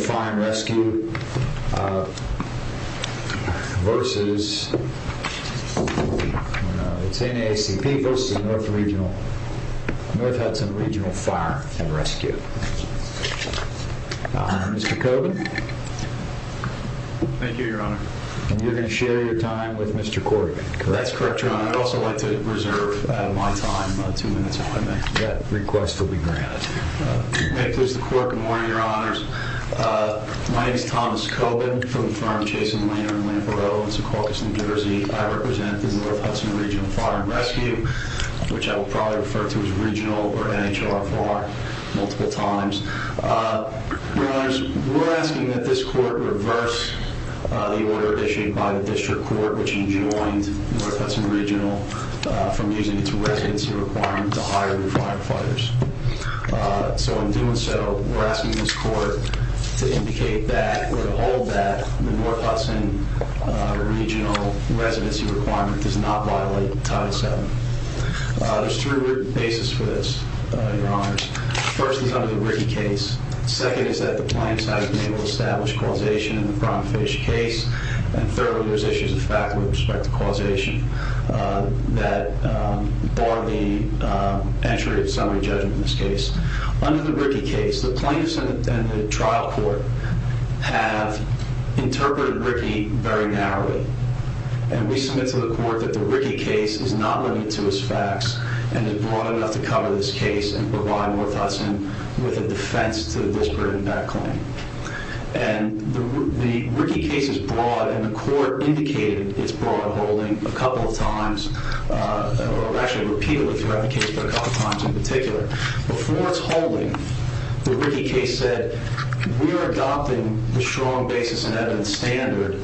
Fire and Rescue versus NAACP v. North Hudson Regional Fire and Rescue. I represent the North Hudson Regional Fire and Rescue, which I will probably refer to as regional or NHLFR multiple times. We're asking that this court reverse the order issued by the district court, which enjoined North Hudson Regional from using its residency requirement to hire new firefighters. So in doing so, we're asking this court to indicate that or to hold that the North Hudson Regional residency requirement does not violate Title VII. There's two written basis for this, Your Honors. First is under the Rickey case. Second is that the plaintiffs haven't been able to establish causation in the Fronfish case. And thirdly, there's issues with respect to causation that bar the entry of summary judgment in this case. Under the Rickey case, the plaintiffs and the trial court have interpreted Rickey very narrowly. And we submit to the court that the Rickey case is not limited to its facts and is broad enough to cover this case and provide North Hudson with a defense to the disparate impact claim. And the Rickey case is broad, and the court indicated its broad holding a couple of times, or actually repeated the case a couple of times in particular. Before its holding, the Rickey case said, We are adopting the strong basis and evidence standard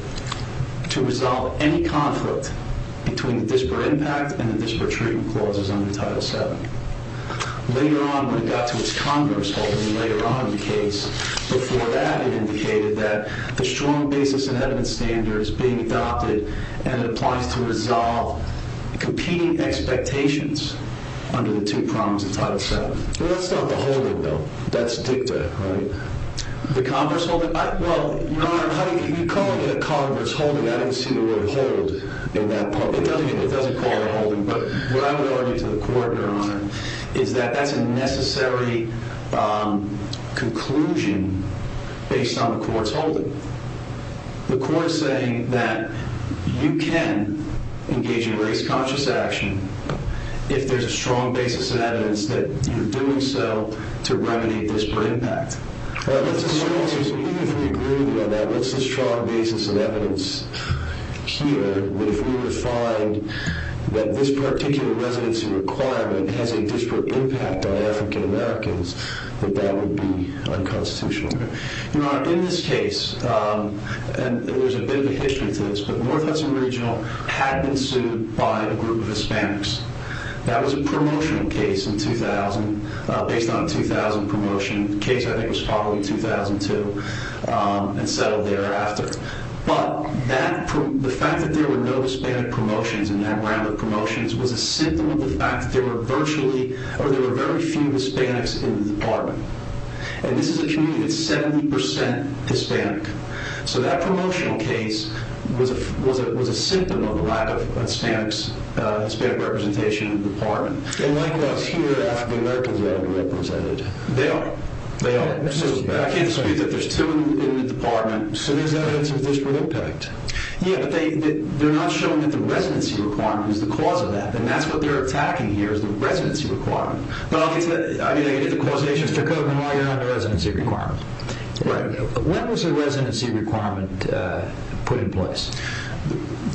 to resolve any conflict between the disparate impact and the disparate treatment clauses under Title VII. Later on, when it got to its converse holding later on in the case, before that it indicated that the strong basis and evidence standard is being adopted and it applies to resolve competing expectations under the two prongs of Title VII. Well, that's not the holding, though. That's dicta, right? The converse holding? Well, Your Honor, if you call it a converse holding, I don't see the word hold in that part. It doesn't call it a holding, but what I would argue to the court, Your Honor, is that that's a necessary conclusion based on the court's holding. The court is saying that you can engage in race-conscious action if there's a strong basis and evidence that you're doing so to remediate disparate impact. Well, that's a strong basis. Even if we agree with you on that, that's a strong basis and evidence here. But if we were to find that this particular residency requirement has a disparate impact on African Americans, that that would be unconstitutional. Your Honor, in this case, and there's a bit of a history to this, but North Hudson Regional had been sued by a group of Hispanics. That was a promotional case based on a 2000 promotion. The case, I think, was probably 2002 and settled thereafter. But the fact that there were no Hispanic promotions in that round of promotions was a symptom of the fact that there were very few Hispanics in the department. And this is a community that's 70% Hispanic. So that promotional case was a symptom of the lack of a Hispanic representation in the department. And likewise, here in Africa, Americans are underrepresented. They are. They are. I can't dispute that there's two in the department. So there's evidence of disparate impact. Yeah, but they're not showing that the residency requirement is the cause of that. And that's what they're attacking here is the residency requirement. Well, I mean, if the causation is to cover them all, you're on a residency requirement. When was the residency requirement put in place?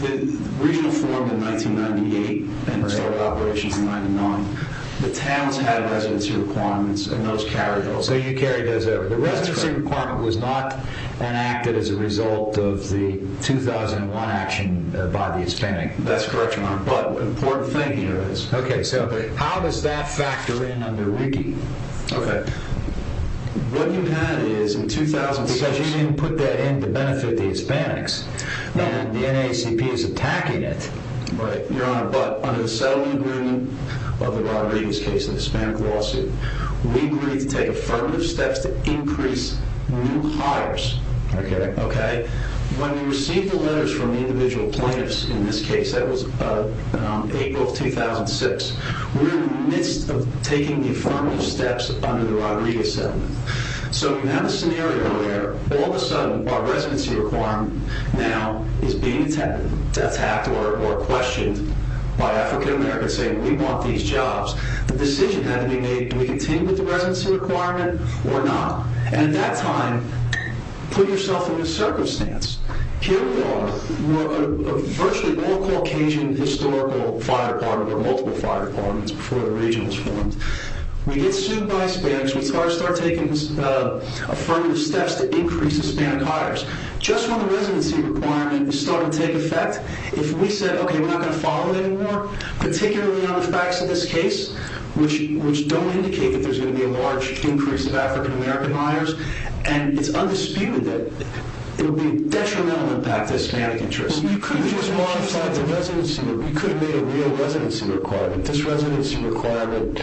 The Regional formed in 1998 and started operations in 1999. The towns had residency requirements and those carried over. So you carried those over. The residency requirement was not enacted as a result of the 2001 action by the Hispanic. That's correct, Your Honor. But an important thing here is... Okay, so how does that factor in under RIGI? Okay. What you had is in 2006... Because you didn't put that in to benefit the Hispanics, and the NAACP is attacking it. Right, Your Honor. But under the settlement agreement of the Rodriguez case and the Hispanic lawsuit, we agreed to take affirmative steps to increase new hires. Okay. Okay? When we received the letters from the individual plaintiffs in this case, that was April of 2006, we were in the midst of taking the affirmative steps under the Rodriguez settlement. So you have a scenario where, all of a sudden, our residency requirement now is being attacked or questioned by African Americans saying, we want these jobs. The decision had to be made, do we continue with the residency requirement or not? And at that time, put yourself in a circumstance. Here we are. We're a virtually all-Caucasian historical fire department or multiple fire departments before the region was formed. We get sued by Hispanics. We start taking affirmative steps to increase Hispanic hires. Just when the residency requirement is starting to take effect, if we said, okay, we're not going to follow it anymore, particularly on the facts of this case, which don't indicate that there's going to be a large increase of African American hires, and it's undisputed that it would be a detrimental impact to Hispanic interests. Well, you could have just modified the residency. You could have made a real residency requirement. This residency requirement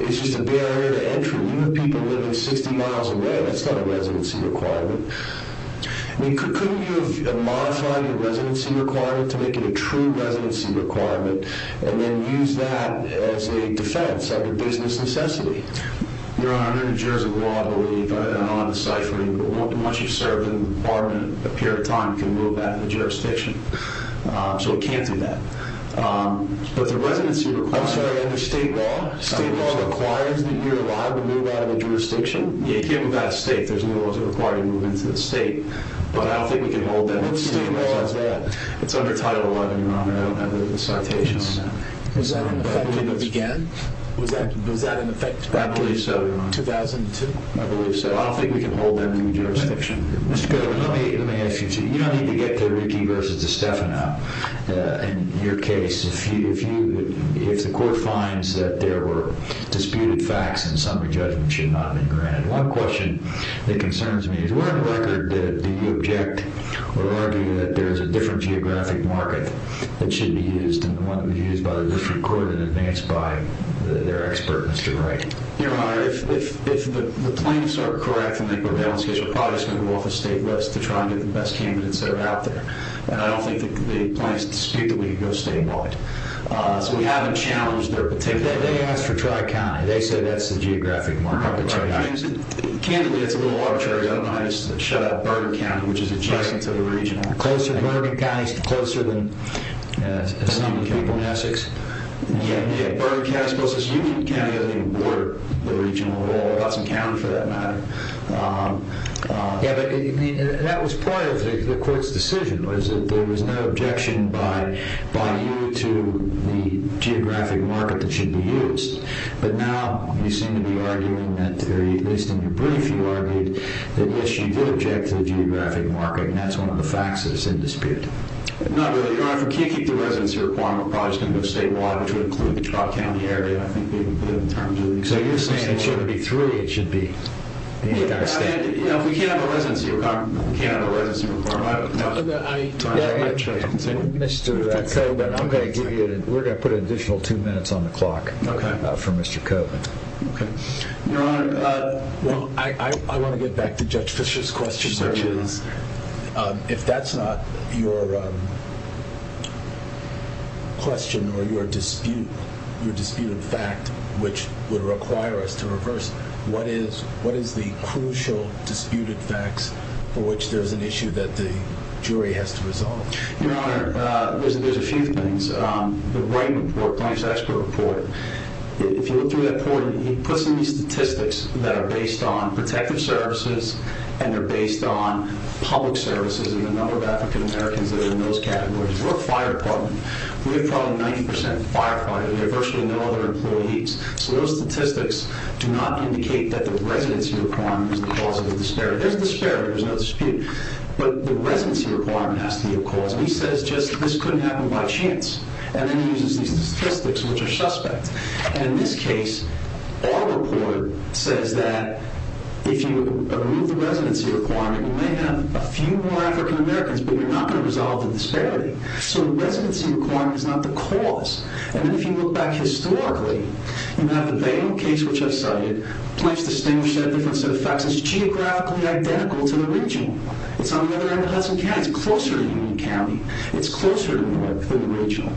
is just a barrier to entry. You have people living 60 miles away. That's not a residency requirement. I mean, couldn't you have modified your residency requirement to make it a true residency requirement and then use that as a defense of a business necessity? Your Honor, under New Jersey law, I believe, and I'm not deciphering, once you've served in the department a period of time, you can move out of the jurisdiction. So it can't do that. But the residency requirement under state law, state law requires that you're allowed to move out of the jurisdiction. You can't move out of state. There's no laws that require you to move into the state. But I don't think we can hold that. What does state law say? It's under Title XI, Your Honor. I don't have a citation on that. Was that an effect when it began? I believe so, Your Honor. 2002? I believe so. Well, I don't think we can hold that in the jurisdiction. Mr. Goodwin, let me ask you something. You don't need to get to Rickey versus DiStefano in your case. If the court finds that there were disputed facts and summary judgment should not have been granted, one question that concerns me is where on the record do you object or argue that there is a different geographic market that should be used and the one that would be used by the district court in advance by their expert, Mr. Rickey? Your Honor, if the claims are correct in the equivalence case, we're probably just going to move off the state list to try and get the best candidates that are out there. And I don't think the claims dispute that we can go statewide. So we haven't challenged their particular market. They asked for tri-county. They said that's the geographic market. Candidly, that's a little arbitrary. I don't know how you shut out Bergen County, which is adjacent to the region. Bergen County is closer than some of the people in Essex. Yeah, Bergen County is closest. Union County doesn't even border the region at all. It doesn't count for that matter. Yeah, but that was part of the court's decision, was that there was no objection by you to the geographic market that should be used. But now you seem to be arguing that, at least in your brief, you argued that, yes, you did object to the geographic market. And that's one of the facts that is in dispute. Not really. Your Honor, if we can't keep the residency requirement, we're probably just going to go statewide, which would include the tri-county area. I think that would be good in terms of the existence of the law. So you're saying it shouldn't be three. It should be the entire state. Yeah, we can't have a residency requirement. We can't have a residency requirement. Mr. Coburn, we're going to put an additional two minutes on the clock for Mr. Coburn. Okay. Your Honor, I want to get back to Judge Fischer's question. If that's not your question or your disputed fact, which would require us to reverse, what is the crucial disputed facts for which there is an issue that the jury has to resolve? Your Honor, there's a few things. The Wright Report, Plaintiff's Expert Report, if you look through that report, he puts in these statistics that are based on protective services and they're based on public services and the number of African Americans that are in those categories. We're a fire department. We have probably 90 percent firefighters. We have virtually no other employees. So those statistics do not indicate that the residency requirement is the cause of the disparity. There's a disparity. There's no dispute. But the residency requirement has to be a cause. He says just this couldn't happen by chance and then he uses these statistics, which are suspect. And in this case, our report says that if you remove the residency requirement, you may have a few more African Americans, but you're not going to resolve the disparity. So the residency requirement is not the cause. And then if you look back historically, you have the Bain case, which I cited, Plaintiff's distinguished set of different set of facts. It's geographically identical to the regional. It's on the other end of Hudson County. It's closer to Union County. It's closer to North than the regional.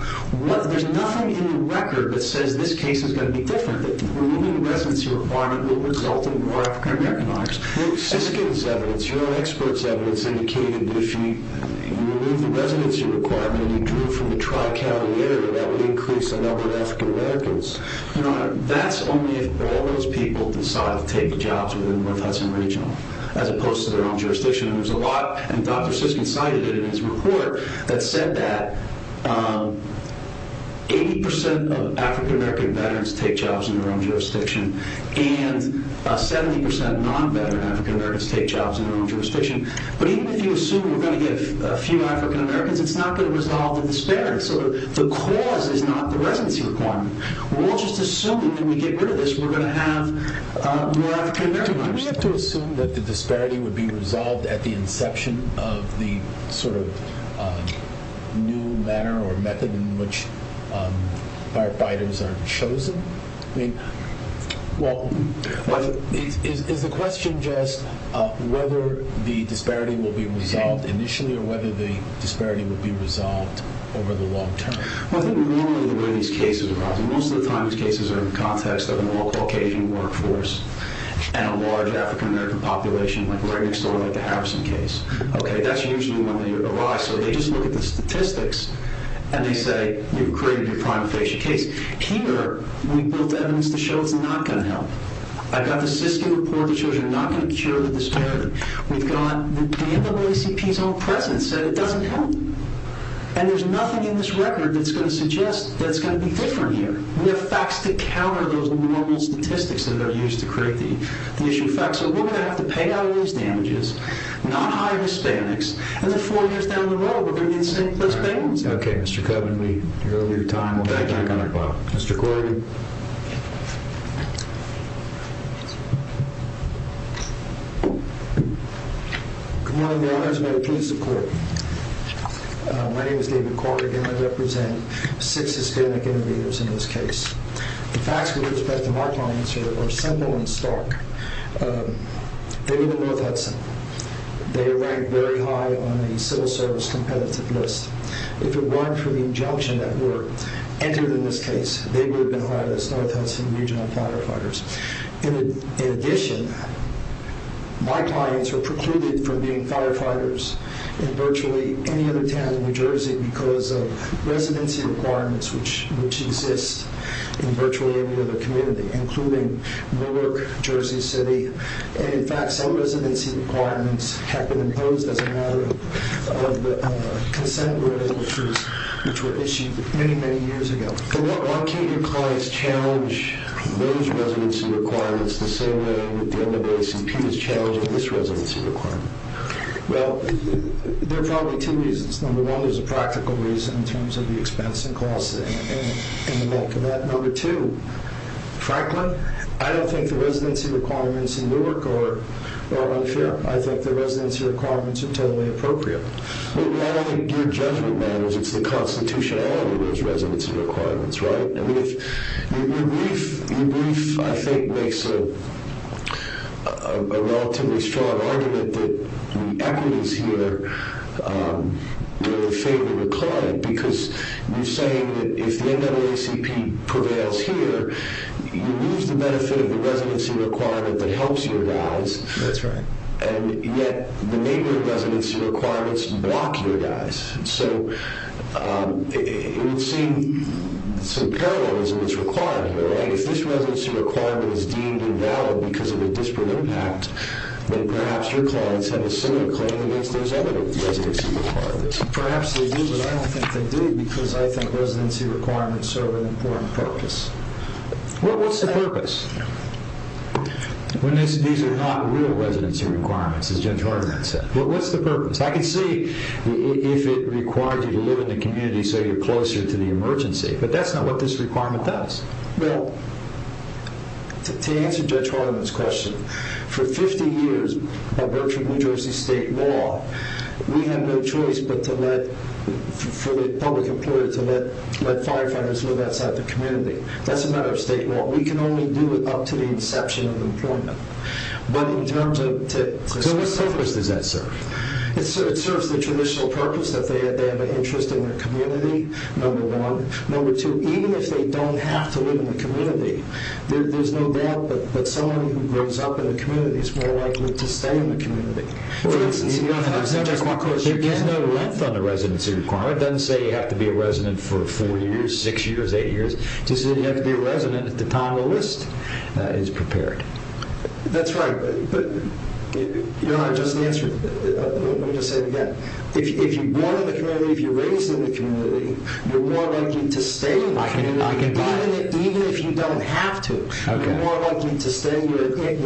There's nothing in the record that says this case is going to be different. Removing the residency requirement will result in more African Americans. Siskin's evidence, your own expert's evidence, indicated that if you remove the residency requirement and you drew from the tri-caliber, that would increase the number of African Americans. That's only if all those people decide to take jobs within North Hudson Regional as opposed to their own jurisdiction. And there's a lot, and Dr. Siskin cited it in his report, that said that 80% of African American veterans take jobs in their own jurisdiction and 70% non-veteran African Americans take jobs in their own jurisdiction. But even if you assume we're going to get a few African Americans, it's not going to resolve the disparity. So the cause is not the residency requirement. We'll just assume that when we get rid of this, we're going to have more African Americans. Do we have to assume that the disparity would be resolved at the inception of the sort of new manner or method in which firefighters are chosen? I mean, well, is the question just whether the disparity will be resolved initially or whether the disparity will be resolved over the long term? Well, I think normally the way these cases are solved, most of the time these cases are in the context of an all-Caucasian workforce and a large African American population, like right next door, like the Harrison case. Okay, that's usually when they arrive. So they just look at the statistics and they say, you've created your prime facial case. Here, we've built evidence to show it's not going to help. I've got the Siskin report that shows you're not going to cure the disparity. We've got the NAACP's own presence that it doesn't help. And there's nothing in this record that's going to suggest that it's going to be different here. We have facts to counter those normal statistics that are used to create the issue of facts. So we're going to have to pay out these damages, not hire Hispanics. And then four years down the road, we're going to be in the same place paying them. Okay, Mr. Coven, we're running out of time. We'll be back on our clock. Mr. Corrigan. Good morning, Your Honors. May it please the Court. My name is David Corrigan. I represent six Hispanic innovators in this case. The facts with respect to my clients are simple and stark. They live in North Hudson. They rank very high on the civil service competitive list. If it weren't for the injunction that were entered in this case, they would have been hired as North Hudson Regional Firefighters. In addition, my clients are precluded from being firefighters in virtually any other town in New Jersey because of residency requirements which exist in virtually any other community, including Newark, Jersey City. And, in fact, some residency requirements have been imposed as a matter of consent which were issued many, many years ago. Why can't your clients challenge those residency requirements the same way that the NAACP is challenging this residency requirement? Well, there are probably two reasons. Number one, there's a practical reason in terms of the expense and cost in the neck of that. Number two, frankly, I don't think the residency requirements in Newark are unfair. I think the residency requirements are totally appropriate. Well, not only in your judgment matters, it's the constitutionality of those residency requirements, right? Your brief, I think, makes a relatively strong argument that the equities here are in favor of the client because you're saying that if the NAACP prevails here, you lose the benefit of the residency requirement that helps your guys. That's right. And yet the neighboring residency requirements block your guys. So it would seem some parallelism is required here, right? If this residency requirement is deemed invalid because of a disparate impact, then perhaps your clients have a similar claim against those other residency requirements. Perhaps they do, but I don't think they do because I think residency requirements serve an important purpose. Well, what's the purpose? These are not real residency requirements, as Judge Hardiman said. Well, what's the purpose? I can see if it requires you to live in the community so you're closer to the emergency, but that's not what this requirement does. Well, to answer Judge Hardiman's question, for 50 years by virtue of New Jersey state law, we had no choice but for the public employer to let firefighters live outside the community. That's a matter of state law. We can only do it up to the inception of employment. So what purpose does that serve? It serves the traditional purpose that they have an interest in their community, number one. Number two, even if they don't have to live in the community, there's no doubt that someone who grows up in the community is more likely to stay in the community. For instance, if you don't have a residency requirement. There is no length on the residency requirement. It doesn't say you have to be a resident for four years, six years, eight years. It just says you have to be a resident at the time the list is prepared. That's right. Your Honor, let me just say it again. If you're born in the community, if you're raised in the community, you're more likely to stay in the community even if you don't have to. You're more likely to stay. You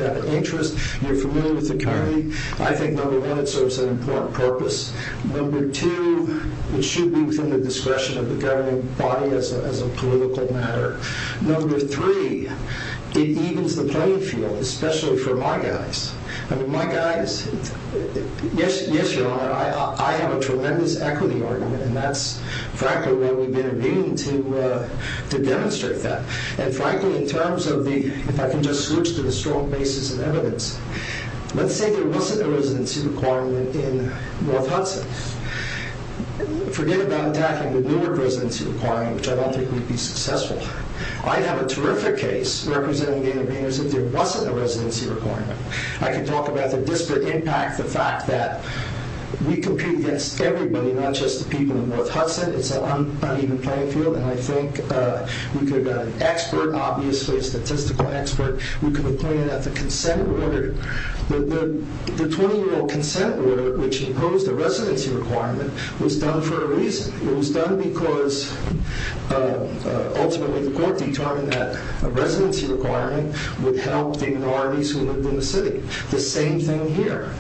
have an interest. You're familiar with the community. I think, number one, it serves an important purpose. Number two, it should be within the discretion of the governing body as a political matter. Number three, it evens the playing field, especially for my guys. I mean, my guys, yes, Your Honor, I have a tremendous equity argument, and that's frankly what we've been agreeing to demonstrate that. And frankly, in terms of the, if I can just switch to the strong basis of evidence, let's say there wasn't a residency requirement in North Hudson. Forget about attacking the Newark residency requirement, which I don't think would be successful. I'd have a terrific case representing the interveners if there wasn't a residency requirement. I could talk about the disparate impact, the fact that we compete against everybody, not just the people in North Hudson. It's an uneven playing field, and I think we could have got an expert, obviously a statistical expert. We could have pointed out the consent order. The 20-year-old consent order, which imposed a residency requirement, was done for a reason. It was done because ultimately the court determined that a residency requirement would help the minorities who lived in the city. The same thing here.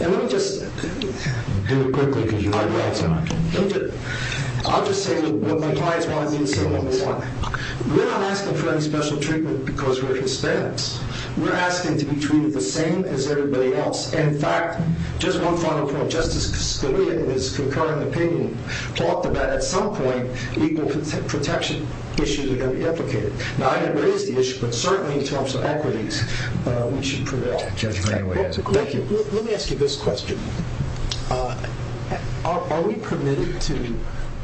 And let me just... Do it quickly, because you might be out of time. I'll just say what my clients want me to say. We're not asking for any special treatment because we're Hispanics. We're asking to be treated the same as everybody else. In fact, just one final point. Justice Scalia, in his concurrent opinion, talked about at some point legal protection issues are going to be implicated. Now, I didn't raise the issue, but certainly in terms of equities, we should prevail. Thank you. Let me ask you this question. Are we permitted to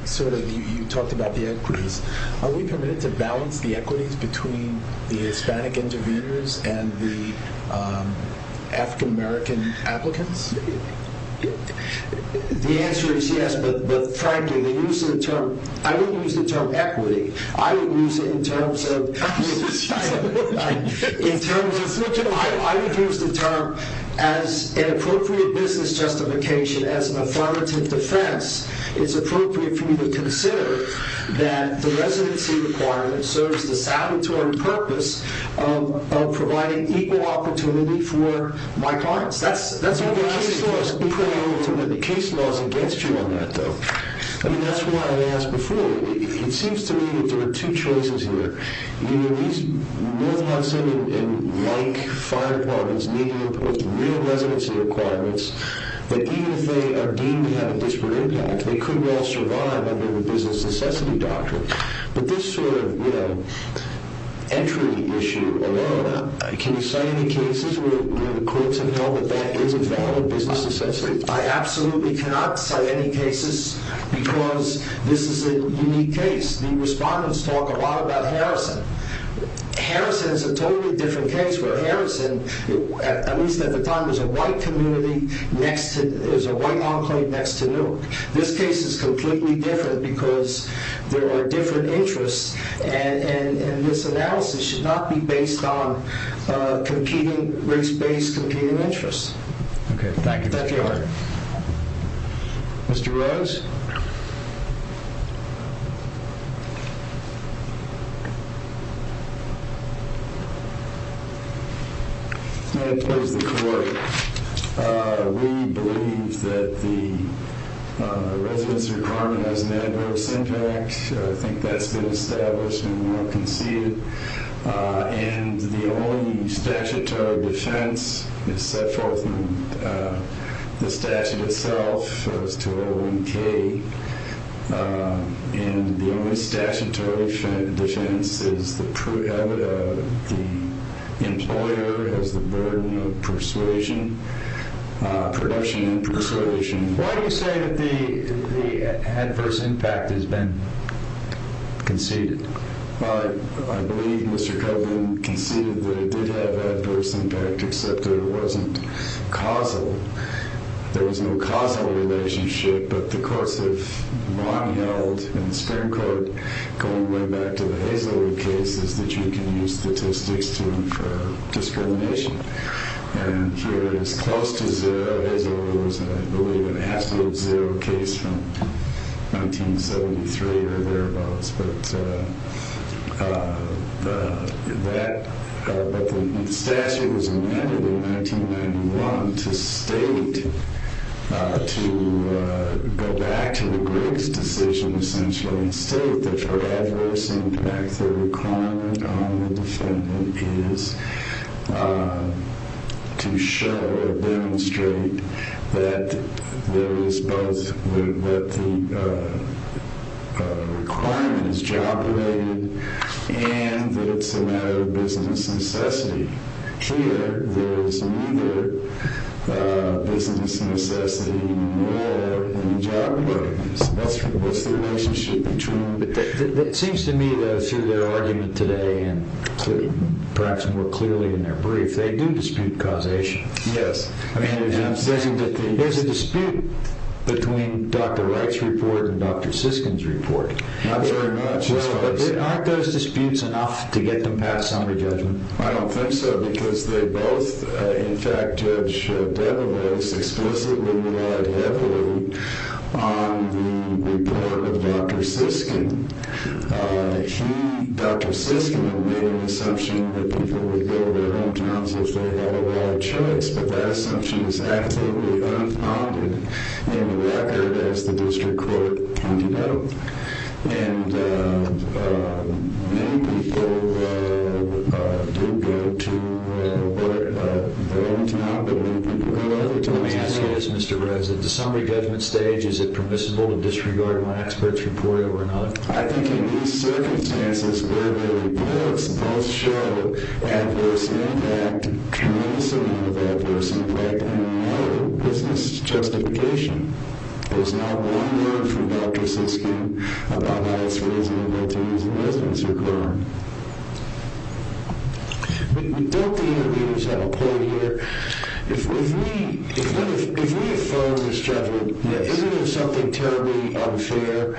sort of... You talked about the equities. Are we permitted to balance the equities between the Hispanic intervenors and the African-American applicants? The answer is yes, but frankly, the use of the term... I wouldn't use the term equity. I would use it in terms of... As an affirmative defense, it's appropriate for you to consider that the residency requirement serves the salvatorean purpose of providing equal opportunity for my clients. That's what the case law is. The case law is against you on that, though. I mean, that's why I asked before. It seems to me that there are two choices here. You know, these North Hudson and Lake fire departments need to impose real residency requirements that even if they are deemed to have a disparate impact, they could well survive under the business necessity doctrine. But this sort of, you know, entry issue alone, can you cite any cases where the courts have held that that is a valid business necessity? I absolutely cannot cite any cases because this is a unique case. The respondents talk a lot about Harrison. Harrison is a totally different case where Harrison, at least at the time, was a white community next to... It was a white enclave next to Newark. This case is completely different because there are different interests, and this analysis should not be based on competing... race-based competing interests. Okay, thank you. Thank you. Mr. Rose? Thank you. May I please the court? We believe that the residency requirement has an adverse impact. I think that's been established and well conceded. And the only statutory defense is set forth in the statute itself, as to O1K, and the only statutory defense is the employer has the burden of persuasion, production and persuasion. Why do you say that the adverse impact has been conceded? I believe Mr. Kovlin conceded that it did have adverse impact, except that it wasn't causal. There was no causal relationship, but the courts have long held in the Supreme Court, going way back to the Hazelwood case, is that you can use statistics to infer discrimination. And here it is close to zero. Hazelwood was, I believe, an absolute zero case from 1973 or thereabouts. But the statute was amended in 1991 to state, to go back to the Griggs decision, essentially, and state that for adverse impact, the requirement on the defendant is to show or demonstrate that there is both, that the requirement is job related, and that it's a matter of business necessity. Here, there is neither business necessity nor any job relatedness. What's the relationship between the two? It seems to me that through their argument today, and perhaps more clearly in their brief, they do dispute causation. Yes. There's a dispute between Dr. Wright's report and Dr. Siskin's report. Not very much. Aren't those disputes enough to get them past summary judgment? I don't think so, because they both, in fact, Judge Debevos, explicitly relied heavily on the report of Dr. Siskin. Dr. Siskin made an assumption that people would go to their hometowns if they had a right choice, but that assumption is absolutely unfounded in the record, as the district court can denote. And many people do go to their hometown, but many people go other times than that. Let me ask you this, Mr. Wright. At the summary judgment stage, is it permissible to disregard my expert's report or not? I think in these circumstances, where the reports both show adverse impact, tremendous amount of adverse impact, and no business justification, there's not one word from Dr. Siskin about how it's reasonable to use the residency requirement. Don't the interviewers have a point here? If we affirm this judgment, isn't there something terribly unfair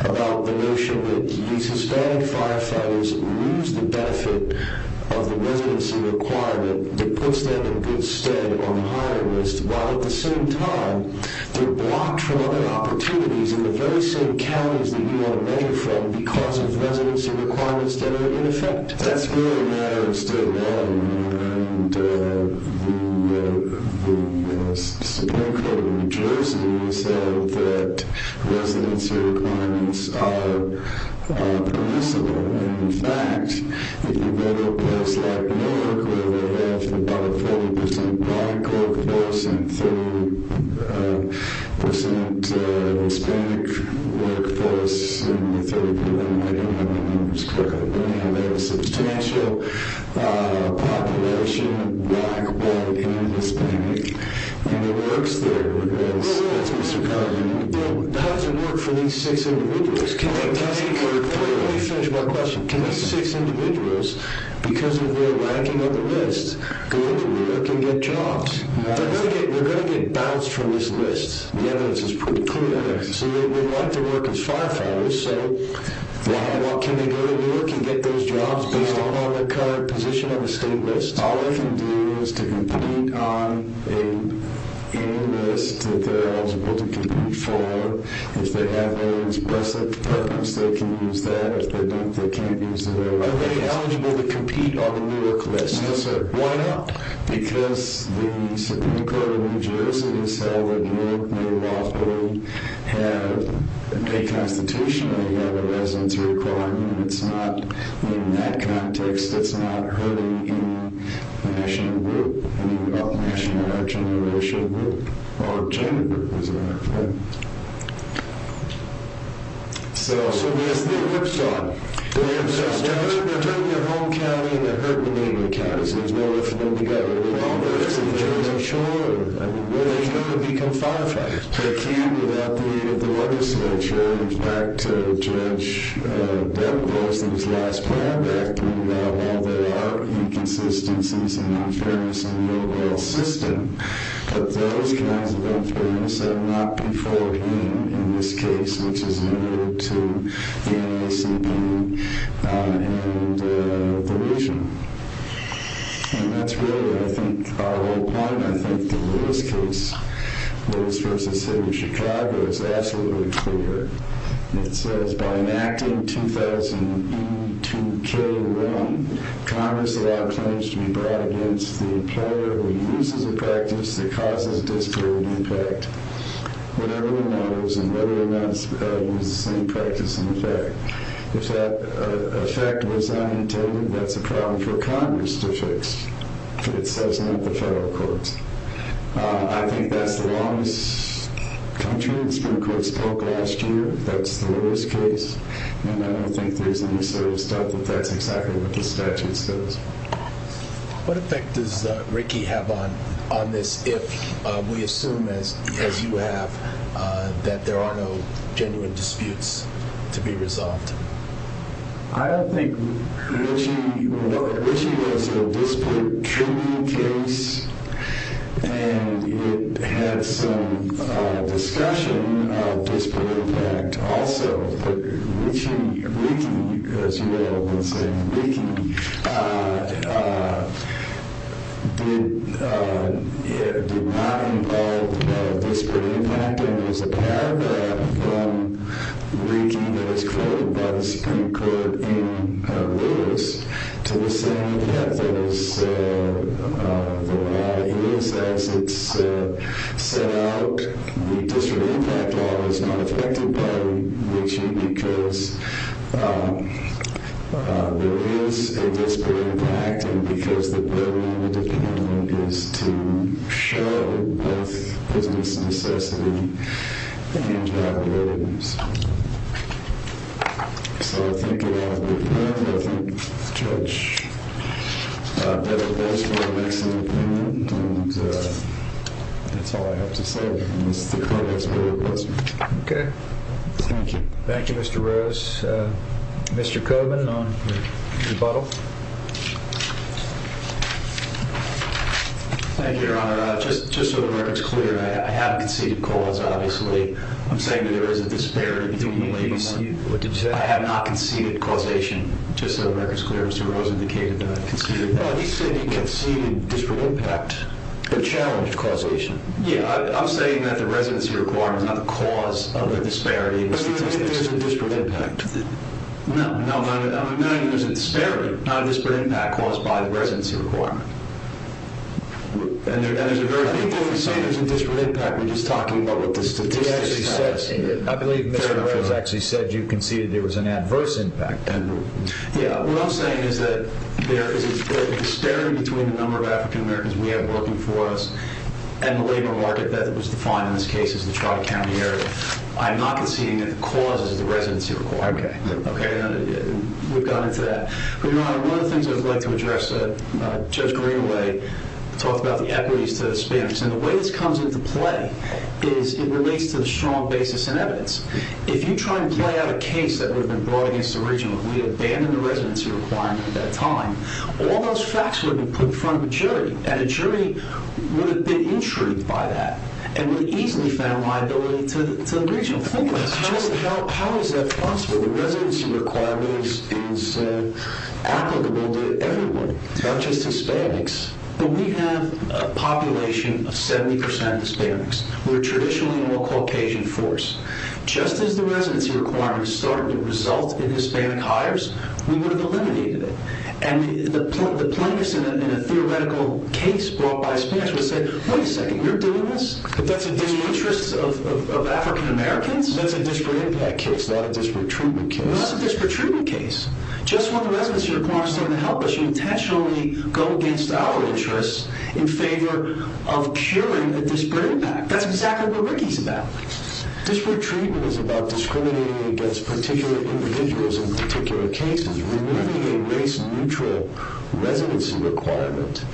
about the notion that these Hispanic firefighters lose the benefit of the residency requirement that puts them in good stead on the hiring list, while at the same time they're blocked from other opportunities in the very same counties that you want to measure from because of residency requirements that are in effect? That's really a matter of state law. The Supreme Court in New Jersey said that residency requirements are permissible. In fact, if you go to a place like Newark, where they have about a 40% black workforce and 30% Hispanic workforce, and they have a substantial population of black, white, and Hispanic, and it works there, that's Mr. Carlin. How does it work for these six individuals? Let me finish my question. Can these six individuals, because of their lacking on the list, go to Newark and get jobs? They're going to get bounced from this list. The evidence is pretty clear. They would like to work as firefighters, so why not? Can they go to Newark and get those jobs based on their current position on the state list? All they can do is to compete on any list that they're eligible to compete for. If they have very expressive performance, they can use that. If they don't, they can't use the very list. Are they eligible to compete on the Newark list? No, sir. Why not? Because the Supreme Court of New Jersey has held that Newark, New York, they have a constitution, they have a residence requirement, and it's not in that context, it's not hurting the national group, and even though the national gender group is there. So, yes, the Eclipsa, the Eclipsa, there's nowhere for them to go. Are they going to become firefighters? They can without the water switch. In fact, Judge Demogorgon's last plan back then, while there are inconsistencies and unfairness in the overall system, but those kinds of unfairness are not before him in this case, which is in order to the NACB and the region. And that's really, I think, our whole point. I think the Lewis case, Lewis v. City of Chicago, is absolutely clear. It says, by enacting 2000E2K1, Congress allowed claims to be brought against the employer who uses the practice that causes disparity impact. But everyone knows and everyone has used the same practice in effect. If that effect was unintended, that's a problem for Congress to fix. It says not the federal courts. I think that's the longest country the Supreme Court spoke last year. That's the Lewis case, and I don't think there's any serious doubt that that's exactly what the statute says. What effect does Rickey have on this if we assume, as you have, that there are no genuine disputes to be resolved? I don't think Rickey would want it. Rickey was a disparate treatment case, and it had some discussion of disparate impact also. But Rickey, as you all have been saying, Rickey did not involve disparate impact, and it was a paragraph from Rickey that was quoted by the Supreme Court in Lewis to say that there are a lot of innocence that's set out. The disparate impact law is not affected by Rickey because there is a disparate impact and because the burden on the defendant is to show both business necessity and values. So I think it ought to be heard. I think the judge had a place where to make some opinion, and that's all I have to say. Okay. Thank you. Thank you, Mr. Rose. Mr. Coburn on rebuttal. Thank you, Your Honor. Just so the record's clear, I haven't conceded cause, obviously. I'm saying that there is a disparity between the ladies. What did you say? I have not conceded causation. Just so the record's clear, Mr. Rose indicated that I conceded that. Well, he said he conceded disparate impact but challenged causation. Yeah. I'm saying that the residency requirement is not the cause of the disparity. But there is a disparate impact. No. I'm not saying there's a disparity. Not a disparate impact caused by the residency requirement. And there's a very big difference. I'm not saying there's a disparate impact. We're just talking about what the statistics tell us. I believe Mr. Rose actually said you conceded there was an adverse impact. Yeah. What I'm saying is that there is a disparity between the number of African Americans we have working for us and the labor market that was defined in this case as the Trotter County area. I'm not conceding that the cause is the residency requirement. Okay. We've gone into that. But, Your Honor, one of the things I'd like to address, Judge Greenaway talked about the equities to the Spaniards. And the way this comes into play is it relates to the strong basis in evidence. If you try and play out a case that would have been brought against the region if we abandoned the residency requirement at that time, all those facts would have been put in front of a jury. And a jury would have been intrigued by that and would have easily found liability to the region. How is that possible? The residency requirement is applicable to everyone, not just Hispanics. But we have a population of 70% Hispanics. We're traditionally a more Caucasian force. Just as the residency requirement started to result in Hispanic hires, we would have eliminated it. And the plaintiffs in a theoretical case brought by the Spaniards would say, Wait a second, you're doing this? That's in the interests of African Americans? That's a disparate impact case, not a disparate treatment case. That's a disparate treatment case. Just when the residency requirement is starting to help us, you intentionally go against our interests in favor of curing a disparate impact. That's exactly what Ricky's about. Disparate treatment is about discriminating against particular individuals in particular cases, removing a race-neutral residency requirement.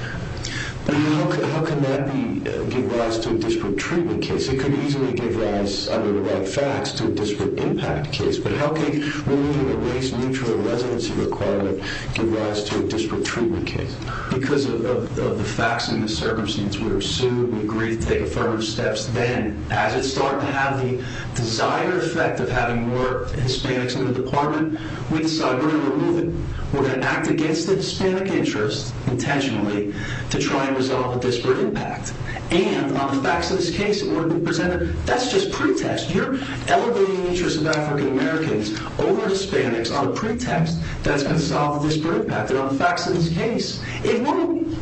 How can that give rise to a disparate treatment case? It could easily give rise, under the right facts, to a disparate impact case. But how can removing a race-neutral residency requirement give rise to a disparate treatment case? Because of the facts and the circumstances, we are sued. We agree to take affirmative steps then. As it's starting to have the desired effect of having more Hispanics in the department, we decide we're going to remove it. We're going to act against the Hispanic interest, intentionally, to try and resolve a disparate impact. And on the facts of this case, in order to be presented, that's just pretext. You're elevating the interests of African Americans over Hispanics on a pretext that's going to solve a disparate impact. And on the facts of this case, it won't be.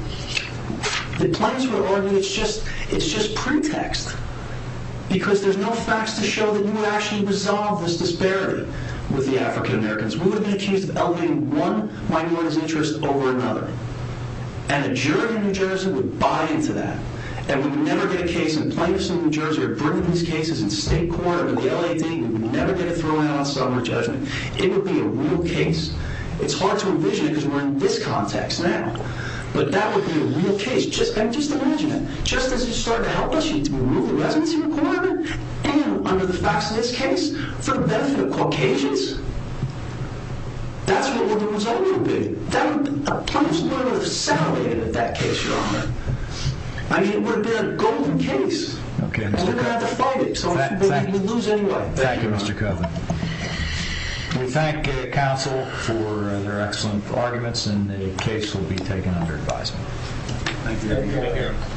The plaintiffs will argue it's just pretext. Because there's no facts to show that you would actually resolve this disparity with the African Americans. We would have been accused of elevating one minority's interest over another. And a jury in New Jersey would buy into that. And we would never get a case, and plaintiffs in New Jersey are burning these cases in state court, or in the LAD, and we would never get a throw-out on summary judgment. It would be a real case. It's hard to envision it because we're in this context now. But that would be a real case. And just imagine it. Just as you start to help us, you need to remove the residency requirement? And under the facts of this case, for the benefit of Caucasians? That's what the result would be. That would be a plaintiff's murder if it's elevated in that case, Your Honor. I mean, it would have been a golden case. And we're going to have to fight it. So we're going to lose anyway. Thank you, Mr. Kovner. We thank counsel for their excellent arguments, and the case will be taken under advisement.